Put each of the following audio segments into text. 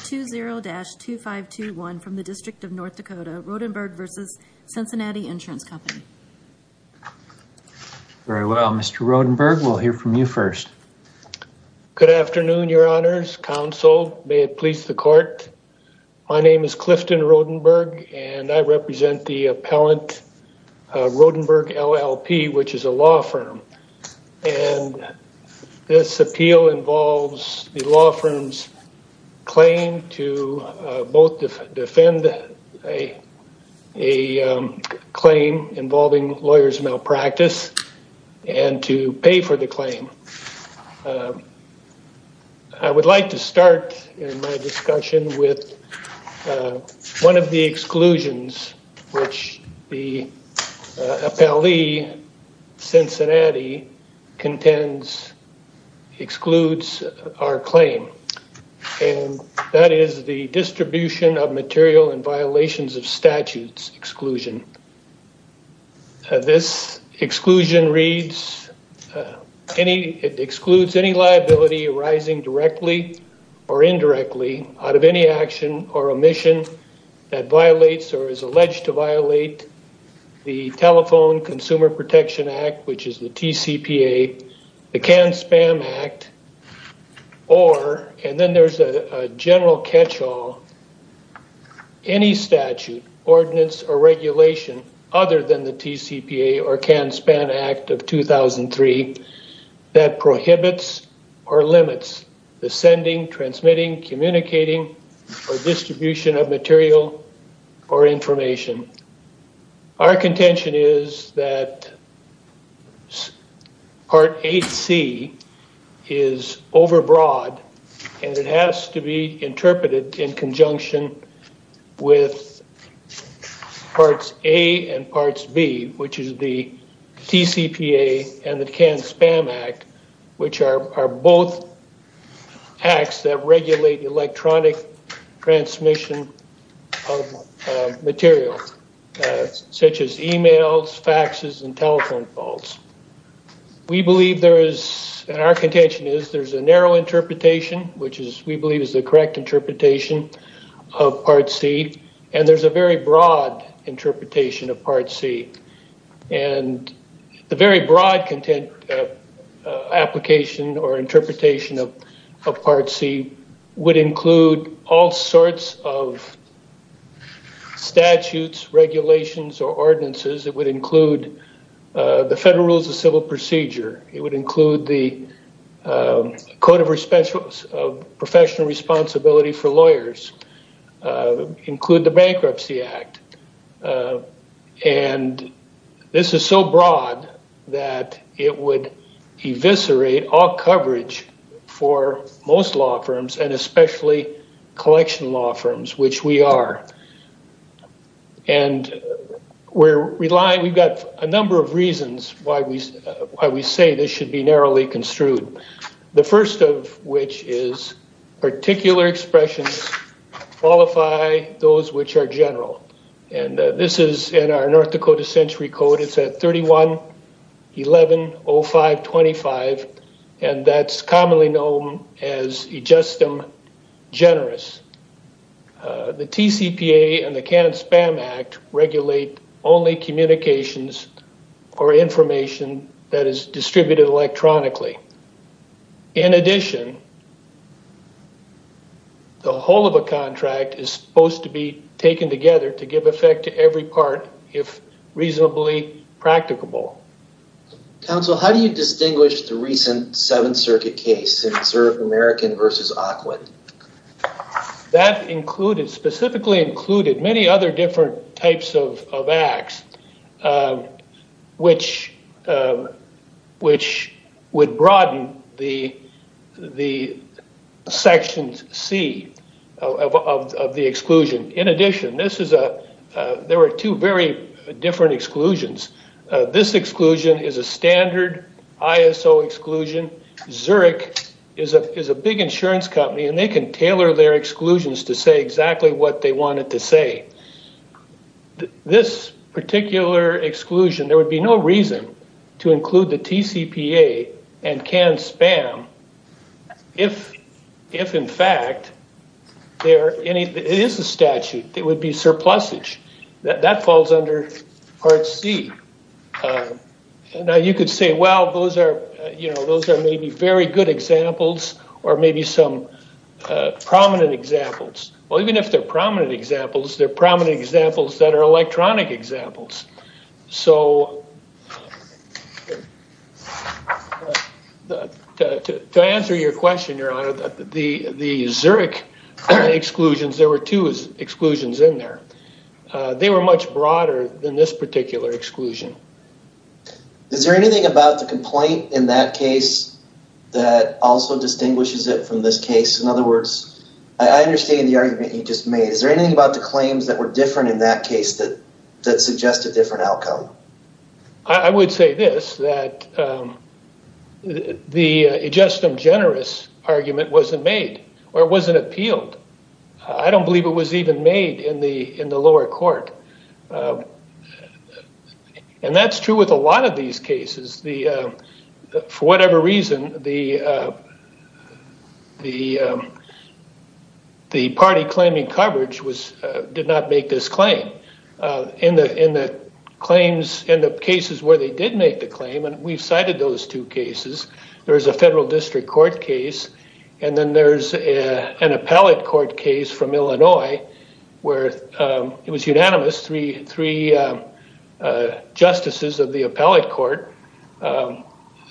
20-2521 from the District of North Dakota, Rodenburg v. Cincinnati Insurance Company. Very well, Mr. Rodenburg, we'll hear from you first. Good afternoon, your honors, counsel, may it please the court. My name is Clifton Rodenburg and I represent the appellant Rodenburg LLP, which is a law firm. And this appeal involves the law firm's claim to both defend a claim involving lawyer's malpractice and to pay for the claim. I would like to start in my discussion with one of the exclusions which the appellee Cincinnati contends excludes our claim and that is the distribution of material and violations of statutes exclusion. This exclusion excludes any liability arising directly or indirectly out of any action or omission that violates or is alleged to violate the telephone consumer protection act, which is the TCPA, the canned spam act, or, and then there's a general catch-all, any statute, ordinance, or regulation other than the TCPA or canned spam act of 2003 that prohibits or limits the sending, transmitting, communicating, or distribution of material or information. Our contention is that part 8C is overbroad and it has to be interpreted in conjunction with parts A and parts B, which is the TCPA and the canned spam act, which are both acts that regulate electronic transmission of material, such as emails, faxes, and telephone calls. We believe there is, and our contention is, there's a narrow interpretation, which we believe is the correct interpretation of part C, and there's a very broad interpretation of part C, and the very broad application or interpretation of part C would include all sorts of statutes, regulations, or ordinances. It would include the federal rules of civil procedure. It would include the code of professional responsibility for lawyers, it would include the bankruptcy act, and this is so broad that it would eviscerate all coverage for most law firms and especially collection law firms, which we are, and we're relying, we've got a number of reasons why we say this should be narrowly construed. The first of which is particular expressions qualify those which are general, and this is in our North Dakota century code. It's at 31-11-0525, and that's commonly known as adjustum generis. The TCPA and the canned spam act regulate only communications or information that is distributed electronically. In addition, the whole of a contract is supposed to be taken together to give effect to every part, if reasonably practicable. Counsel, how do you distinguish the recent Seventh Circuit case, American v. Aquin? That included, specifically included, many other different types of acts, which would broaden the sections C of the exclusion. In addition, there were two very different exclusions. This exclusion is a standard ISO exclusion. Zurich is a big insurance company, and they can tailor their exclusions to say this particular exclusion, there would be no reason to include the TCPA and canned spam if, in fact, there is a statute that would be surplusage. That falls under part C. Now, you could say, well, those are maybe very good examples or maybe some prominent examples. Even if they're prominent examples, they're prominent examples that are electronic examples. To answer your question, your honor, the Zurich exclusions, there were two exclusions in there. They were much broader than this particular exclusion. Is there anything about the complaint in that case that also distinguishes it from this case? I understand the argument you just made. Is there anything about the claims that were different in that case that suggest a different outcome? I would say this, that the adjustum generis argument wasn't made or wasn't appealed. I don't believe it was even made in the lower court. That's true with a lot of these cases. The, for whatever reason, the party claiming coverage did not make this claim. In the claims, in the cases where they did make the claim, and we've cited those two cases, there's a federal district court case, and then there's an appellate court case from Illinois where it was unanimous, three justices of the appellate court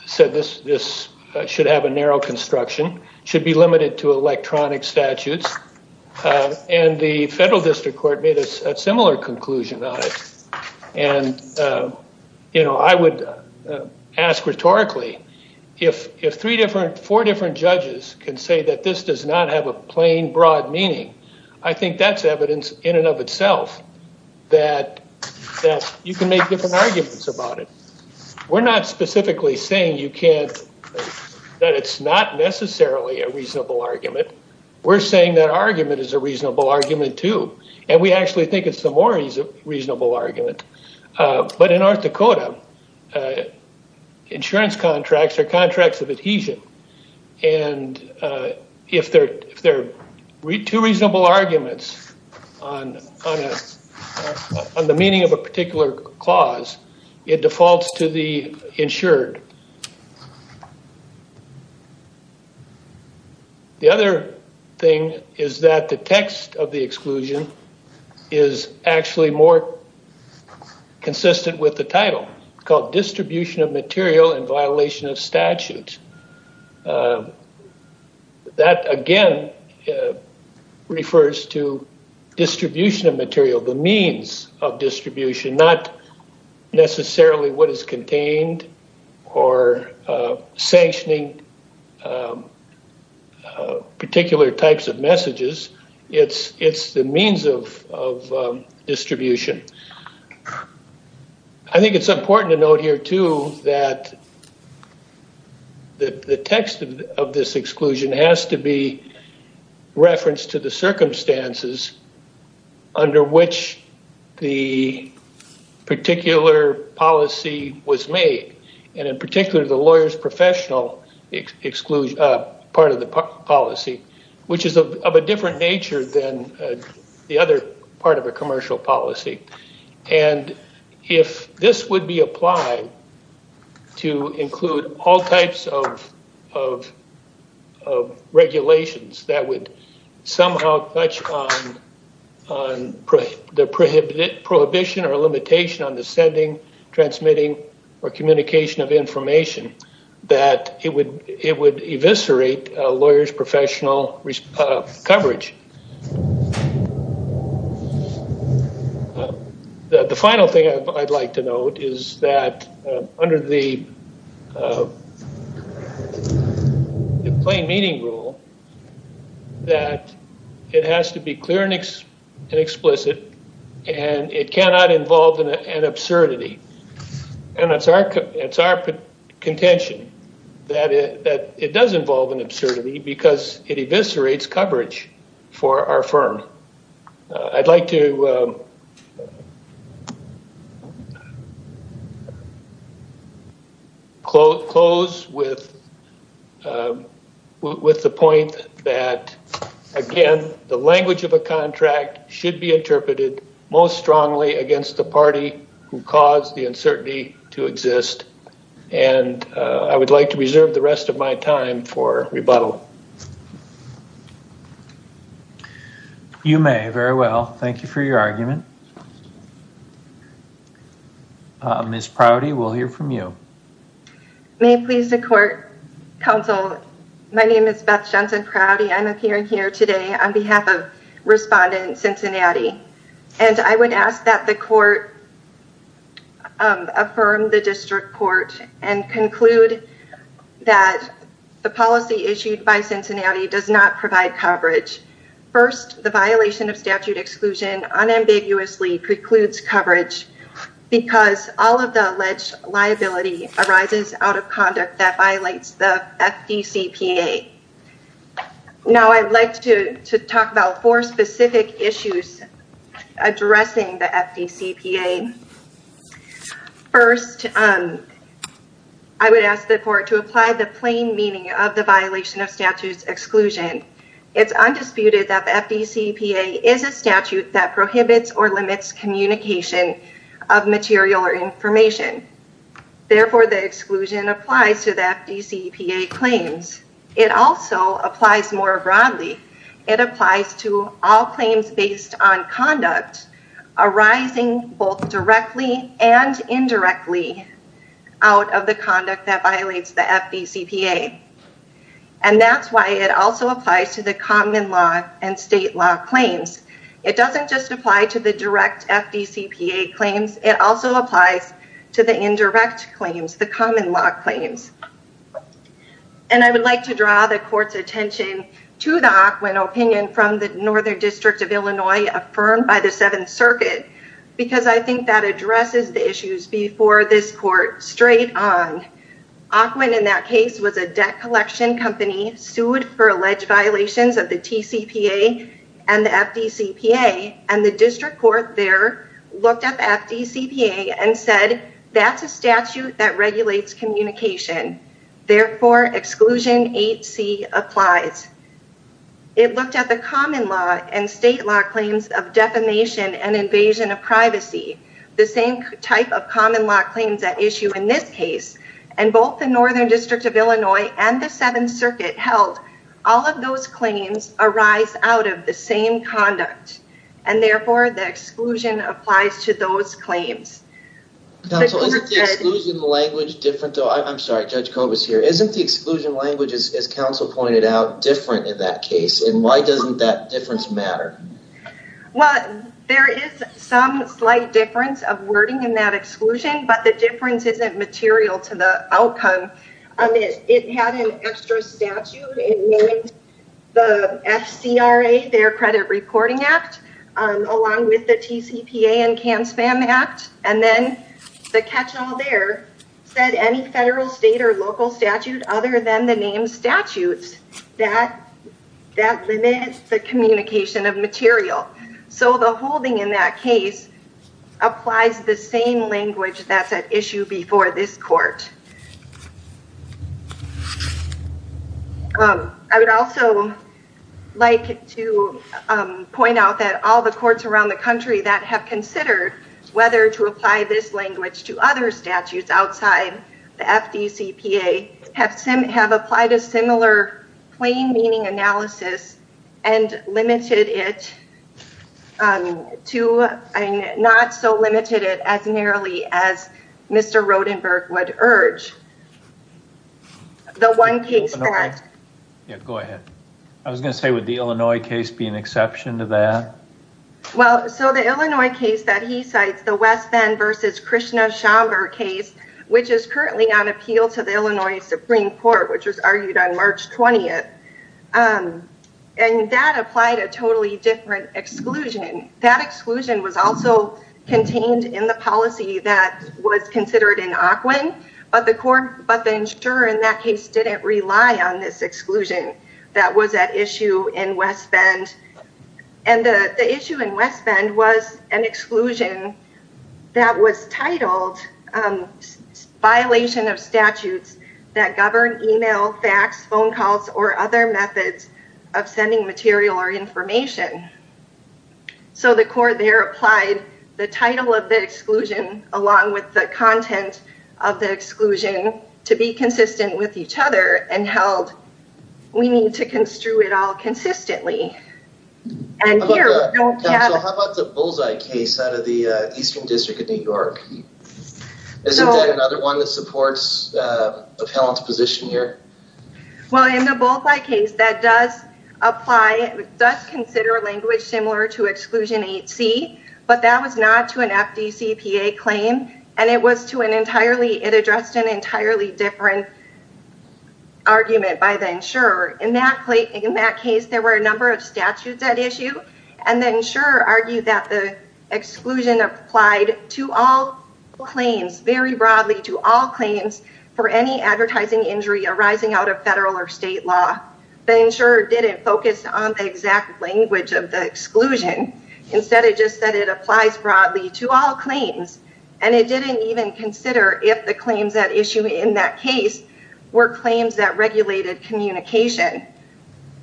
said this should have a narrow construction, should be limited to electronic statutes. The federal district court made a similar conclusion on it. I would ask rhetorically, if four different judges can say that this does not have a plain broad meaning, I think that's evidence in and of itself that you can make different arguments about it. We're not specifically saying you can't, that it's not necessarily a reasonable argument. We're saying that argument is a reasonable argument, too, and we actually think it's the more reasonable argument. But in North Dakota, insurance contracts are contracts of adhesion, and if they're two reasonable arguments on the meaning of a particular clause, it defaults to the insured. The other thing is that the text of the exclusion is actually more consistent with the title called distribution of material in violation of statute. That, again, refers to distribution of material, the means of distribution, not necessarily what the title says. I think it's important to note here, too, that the text of this exclusion has to be referenced to the circumstances under which the particular policy was made, and in particular, the lawyer's professional exclusion, part of the policy, which is of a different nature than the other part of a commercial policy. And if this would be applied to include all types of regulations that would somehow touch on the prohibition or limitation on the sending, transmitting, or communication of information, that it would eviscerate a lawyer's professional coverage. The final thing I'd like to note is that under the plain meaning rule, that it has to be clear and explicit, and it cannot involve an absurdity. And it's our contention that it does involve an absurdity because it eviscerates coverage for our firm. I'd like to close with the point that, again, the language of a contract should be interpreted most strongly against the party who caused the uncertainty to exist. And I would like to reserve the rest of my time for rebuttal. You may. Very well. Thank you for your argument. Ms. Prouty, we'll hear from you. May it please the court, counsel, my name is Beth Johnson Prouty. I'm appearing here today on behalf of Respondent Cincinnati. And I would ask that the court affirm the district court and conclude that the policy issued by Cincinnati does not provide coverage. First, the violation of statute exclusion unambiguously precludes coverage because all of the alleged liability arises out of conduct that addresses the FDCPA. First, I would ask the court to apply the plain meaning of the violation of statute exclusion. It's undisputed that the FDCPA is a statute that prohibits or limits communication of material or information. Therefore, the exclusion applies to the FDCPA claims. It also applies more broadly. It applies to all claims based on conduct arising both directly and indirectly out of the conduct that violates the FDCPA. And that's why it also applies to the common law and state law claims. It doesn't just apply to the direct FDCPA claims. It also to the indirect claims, the common law claims. And I would like to draw the court's attention to the Ockwin opinion from the Northern District of Illinois affirmed by the Seventh Circuit because I think that addresses the issues before this court straight on. Ockwin in that case was a debt collection company sued for alleged violations of the TCPA and the FDCPA and the district court looked up FDCPA and said that's a statute that regulates communication. Therefore, exclusion 8C applies. It looked at the common law and state law claims of defamation and invasion of privacy, the same type of common law claims at issue in this case. And both the Northern District of Illinois and the Seventh Circuit held all of those claims arise out of the same conduct. And therefore, the exclusion applies to those claims. Counsel, isn't the exclusion language different though? I'm sorry, Judge Cobus here. Isn't the exclusion language, as counsel pointed out, different in that case? And why doesn't that difference matter? Well, there is some slight difference of wording in that exclusion, but the difference isn't material to the outcome. It had an extra statute. It made the FCRA, Fair Credit Reporting Act, along with the TCPA and CAN-SPAM Act. And then the catch-all there said any federal, state, or local statute other than the named statutes that limit the communication of material. So the holding in that case applies the same language that's at issue before this court. I would also like to point out that all the courts around the country that have considered whether to apply this language to other statutes outside the FDCPA have applied a similar plain meaning analysis and limited it to, not so limited it as narrowly as Mr. Rodenberg would urge. The one case that... Yeah, go ahead. I was going to say, would the Illinois case be an exception to that? Well, so the Illinois case that he cites, the West Bend versus Krishna Schomburg case, which is currently on appeal to the Illinois Supreme Court, which was argued on March 20th, and that applied a totally different exclusion. That exclusion was also contained in the policy that was considered in ACWIN, but the insurer in that case didn't rely on this exclusion that was at issue in West Bend. And the issue in West Bend was an exclusion that was titled violation of statutes that govern email, fax, phone calls, or other methods of sending material or information. So the court there applied the title of the exclusion along with the content of the exclusion to be consistent with each other and held we need to construe it consistently. How about the Bullseye case out of the Eastern District of New York? Isn't that another one that supports appellant's position here? Well, in the Bullseye case, that does apply, does consider language similar to exclusion 8C, but that was not to an FDCPA claim, and it was to an entirely, it addressed an entirely different argument by the insurer. In that case, there were a number of statutes at issue, and the insurer argued that the exclusion applied to all claims, very broadly to all claims for any advertising injury arising out of federal or state law. The insurer didn't focus on the exact language of the exclusion. Instead, it just said it applies broadly to all claims, and it didn't even consider if the claims at issue in that case were claims that regulated communication.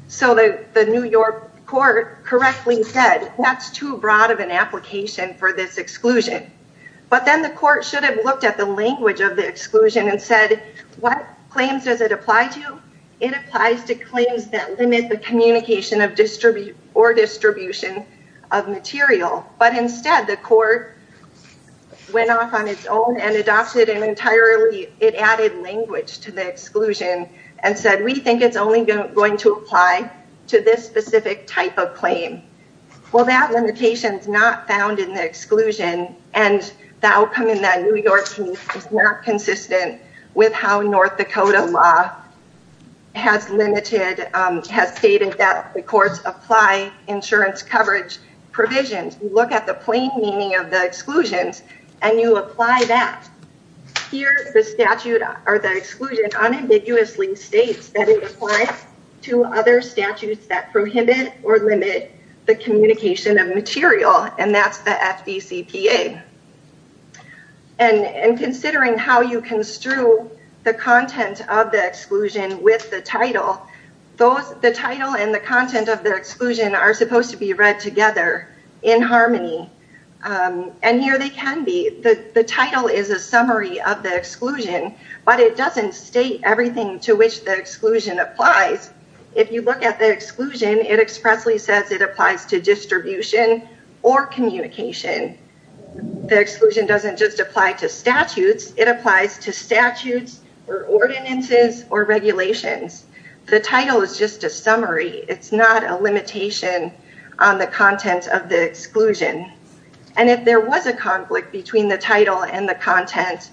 So the New York court correctly said that's too broad of an application for this exclusion. But then the court should have looked at the language of the exclusion and said, what claims does it apply to? It applies to claims that limit the communication or distribution of material. But instead, the court went off on its own and entirely, it added language to the exclusion and said, we think it's only going to apply to this specific type of claim. Well, that limitation is not found in the exclusion, and the outcome in that New York case is not consistent with how North Dakota law has stated that the courts apply insurance coverage provisions. You look at the plain meaning of the exclusions and you apply that. Here, the statute or the exclusion unambiguously states that it applies to other statutes that prohibit or limit the communication of material, and that's the FDCPA. And considering how you construe the content of the exclusion with the title, the title and the content of the exclusion are supposed to be read together in harmony and here they can be. The title is a summary of the exclusion, but it doesn't state everything to which the exclusion applies. If you look at the exclusion, it expressly says it applies to distribution or communication. The exclusion doesn't just apply to statutes. It applies to statutes or ordinances or regulations. The title is just a summary. It's not a limitation on the content of the exclusion. And if there was a conflict between the title and the content,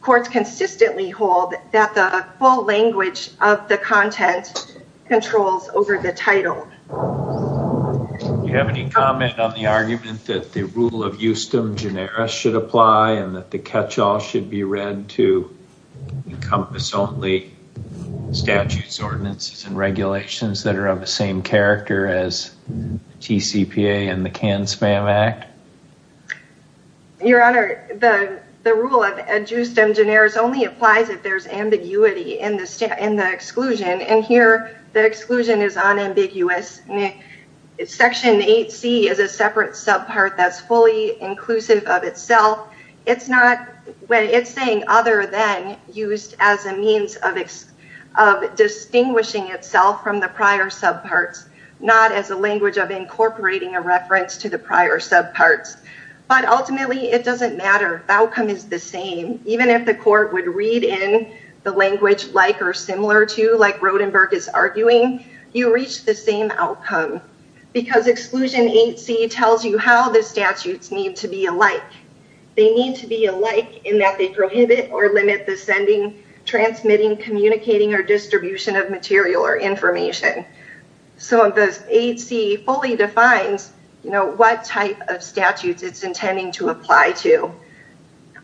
courts consistently hold that the full language of the content controls over the title. Do you have any comment on the argument that the rule of justum generis should apply and that the catch-all should be read to encompass only statutes, ordinances, and regulations that are of the same character as TCPA and the CAN-SPAM Act? Your Honor, the rule of justum generis only applies if there's ambiguity in the exclusion, and here the exclusion is unambiguous. Section 8C is a separate subpart that's fully inclusive of itself. It's saying other than used as a means of distinguishing itself from the prior subparts, not as a language of incorporating a reference to the prior subparts. But ultimately, it doesn't matter. The outcome is the same. Even if the court would read in the language like or similar to, like Rodenberg is arguing, you reach the same outcome. Because exclusion 8C tells you how the statutes need to be alike. They need to be alike in that they prohibit or limit the sending, transmitting, communicating, or distribution of material or information. So 8C fully defines what type of statutes it's intending to apply to.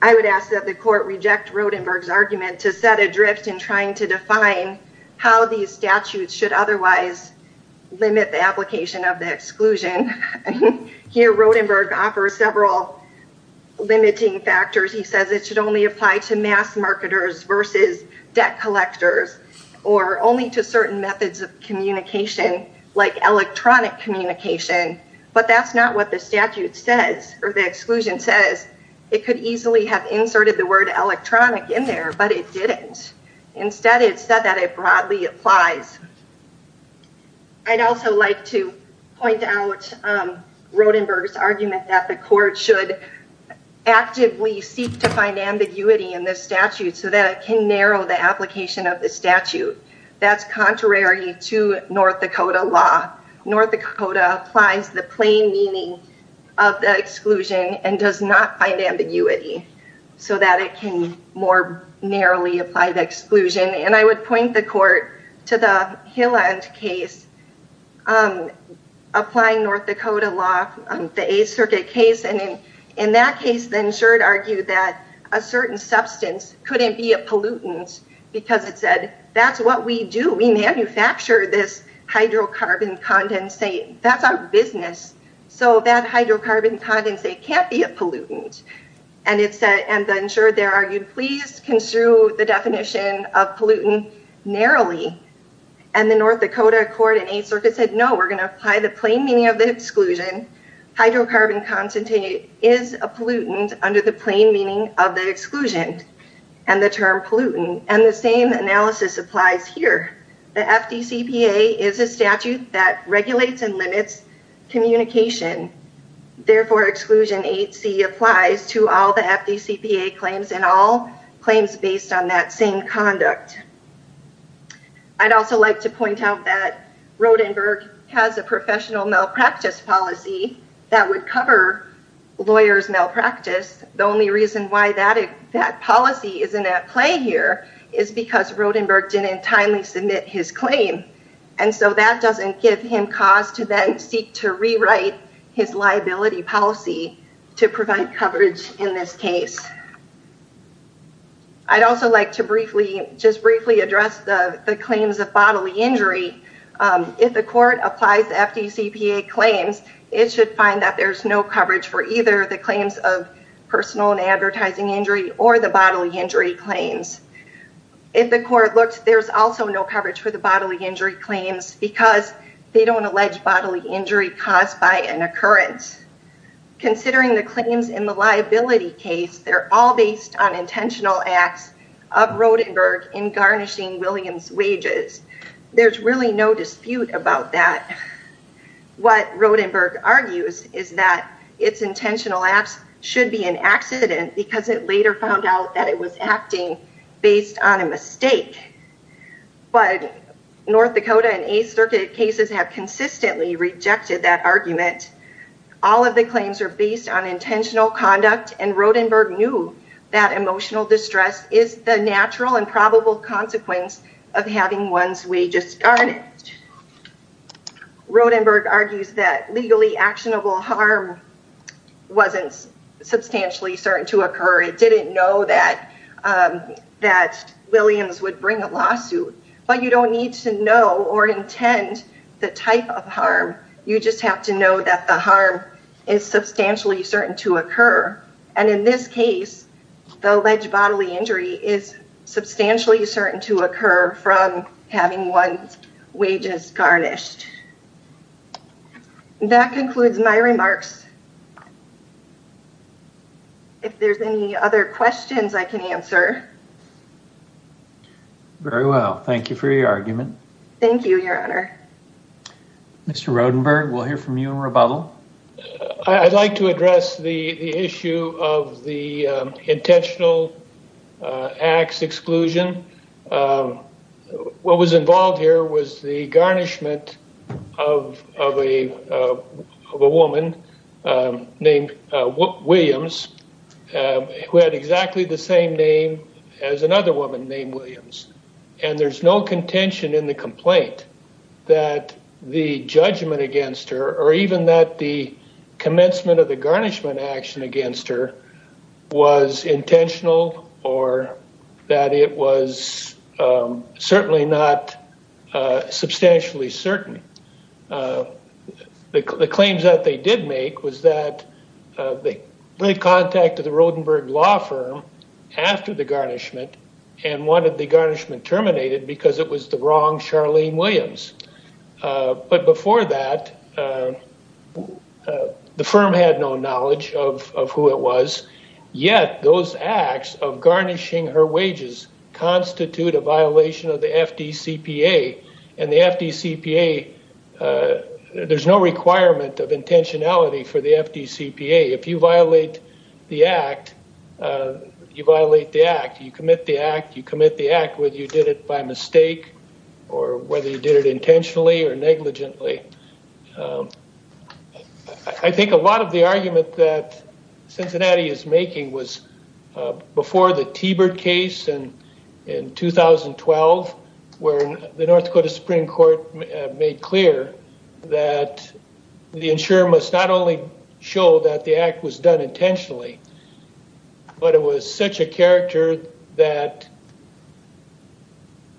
I would ask that the court reject Rodenberg's argument to set adrift in trying to define how these statutes should otherwise limit the application of the exclusion. Here Rodenberg offers several limiting factors. He says it should only apply to mass marketers versus debt collectors or only to certain methods of communication like electronic communication. But that's not what the statute says or the exclusion says. It could easily have inserted the word electronic in there, but it didn't. Instead, it said that it broadly applies. I'd also like to point out Rodenberg's argument that the court should actively seek to narrow the application of the statute. That's contrary to North Dakota law. North Dakota applies the plain meaning of the exclusion and does not find ambiguity so that it can more narrowly apply the exclusion. And I would point the court to the Hilland case, applying North Dakota law, the 8th Circuit case. And in that case, the insured argued that a certain substance couldn't be a pollutant because it said, that's what we do. We manufacture this hydrocarbon condensate. That's our business. So that hydrocarbon condensate can't be a pollutant. And the insured there argued, please construe the definition of pollutant narrowly. And the North Dakota court said, no, we're going to apply the plain meaning of the exclusion. Hydrocarbon condensate is a pollutant under the plain meaning of the exclusion and the term pollutant. And the same analysis applies here. The FDCPA is a statute that regulates and limits communication. Therefore, exclusion 8C applies to all the FDCPA claims and all claims based on that same conduct. I'd also like to point out that Rodenberg has a professional malpractice policy that would cover lawyers malpractice. The only reason why that policy isn't at play here is because Rodenberg didn't timely submit his claim. And so that doesn't give him cause to then seek to rewrite his liability policy to provide coverage in this case. I'd also like to briefly just address the claims of bodily injury. If the court applies the FDCPA claims, it should find that there's no coverage for either the claims of personal and advertising injury or the bodily injury claims. If the court looks, there's also no coverage for the bodily injury claims because they don't allege bodily injury caused by an occurrence. Considering the claims in the Williams wages, there's really no dispute about that. What Rodenberg argues is that its intentional acts should be an accident because it later found out that it was acting based on a mistake. But North Dakota and 8th Circuit cases have consistently rejected that argument. All of the claims are based on intentional conduct and Rodenberg knew that emotional distress is the natural and probable consequence of having one's wages garnished. Rodenberg argues that legally actionable harm wasn't substantially certain to occur. It didn't know that Williams would bring a lawsuit. But you don't need to know or intend the type of harm. You just have to know that the harm is substantially certain to occur. And in this case, the alleged bodily injury is substantially certain to occur from having one's wages garnished. That concludes my remarks. If there's any other questions I can answer. Very well. Thank you for your argument. Thank you, Your Honor. Mr. Rodenberg, we'll hear from you in rebuttal. I'd like to address the issue of the intentional acts exclusion. What was involved here was the garnishment of a woman named Williams who had exactly the same name as another woman named Williams. And there's no contention in the complaint that the judgment against her or even that the commencement of the garnishment action against her was intentional or that it was certainly not substantially certain. The claims that they did make was that they contacted the Rodenberg law firm after the garnishment and wanted the garnishment terminated because it was the wrong Charlene Williams. But before that, the firm had no knowledge of who it was. Yet those acts of garnishing her wages constitute a violation of the FDCPA. And the FDCPA, there's no requirement of intentionality for the FDCPA. If you violate the act, you violate the act. You commit the act, you commit the act whether you did it by mistake or whether you did it intentionally or negligently. I think a lot of the argument that Cincinnati is making was before the Tebert case in 2012 where the North Dakota Supreme Court made clear that the insurer must not only show that the act was done intentionally, but it was such a character that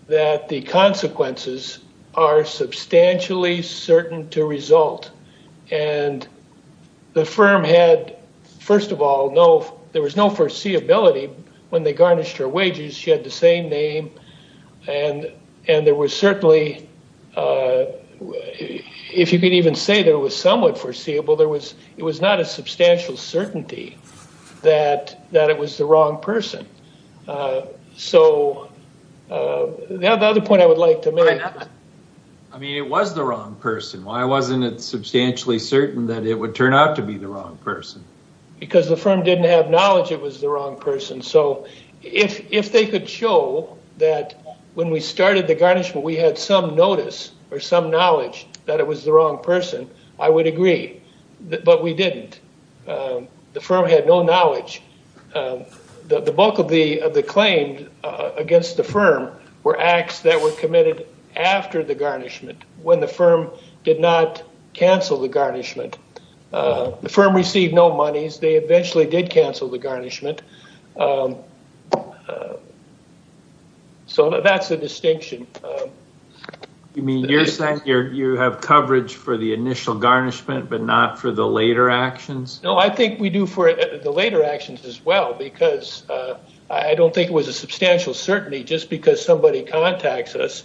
the consequences are substantially certain to result. And the firm had, first of all, there was no foreseeability when they garnished her wages. She had the same name. And there was certainly, if you could even say there was somewhat foreseeable, it was not a substantial certainty that it was the wrong person. So the other point I would like to make. I mean, it was the wrong person. Why wasn't it substantially certain that it would turn out to be the wrong person? Because the firm didn't have knowledge it was the wrong person. So if they could show that when we started the garnishment, we had some notice or some knowledge that it was the wrong person, I would agree. But we didn't. The firm had no knowledge. The bulk of the claim against the firm were acts that were committed after the garnishment when the firm did not cancel the garnishment. The firm received no monies. They eventually did cancel the garnishment. So that's a distinction. You mean you're saying you have coverage for the initial garnishment, but not for the later actions? No, I think we do for the later actions as well, because I don't think it was a substantial certainty just because somebody contacts us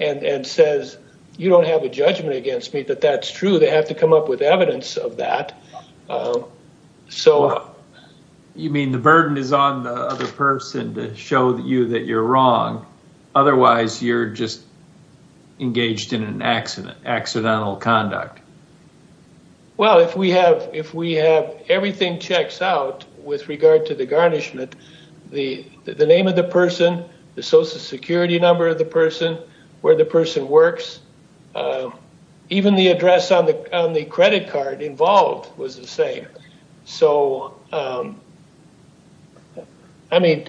and says, you don't have a judgment against me that that's true. They have to come up with evidence of that. So you mean the burden is on the other to show you that you're wrong. Otherwise, you're just engaged in an accident, accidental conduct. Well, if we have everything checks out with regard to the garnishment, the name of the person, the social security number of the person, where the person works, even the address on the credit card involved was the same. So I mean.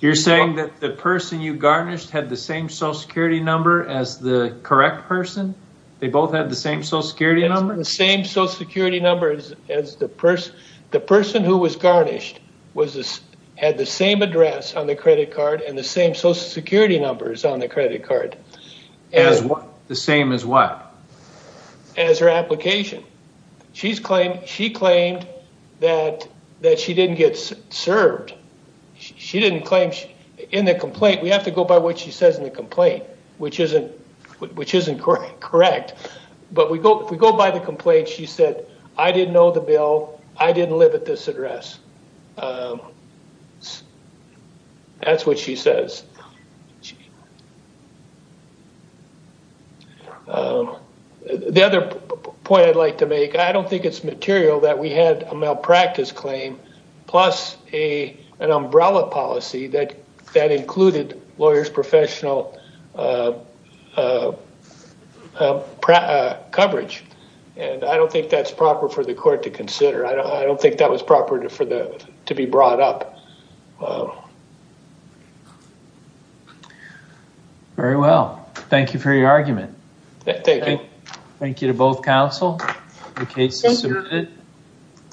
You're saying that the person you garnished had the same social security number as the correct person? They both had the same social security number? The same social security numbers as the person. The person who was garnished had the same address on the credit card and the same social security numbers on the credit card. The same as what? As her application. She claimed that she didn't get served. She didn't claim in the complaint. We have to go by what she says in the complaint, which isn't correct. But we go by the complaint. She said, I didn't know the bill. I didn't live at this address. That's what she says. The other point I'd like to make, I don't think it's material that we had a malpractice claim plus an umbrella policy that included lawyer's professional coverage. And I don't think that's proper for the court to consider. I don't think that was proper to be brought up. Very well. Thank you for your argument. Thank you. Thank you to both counsel. The case is submitted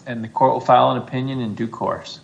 and the court will file an opinion in due course.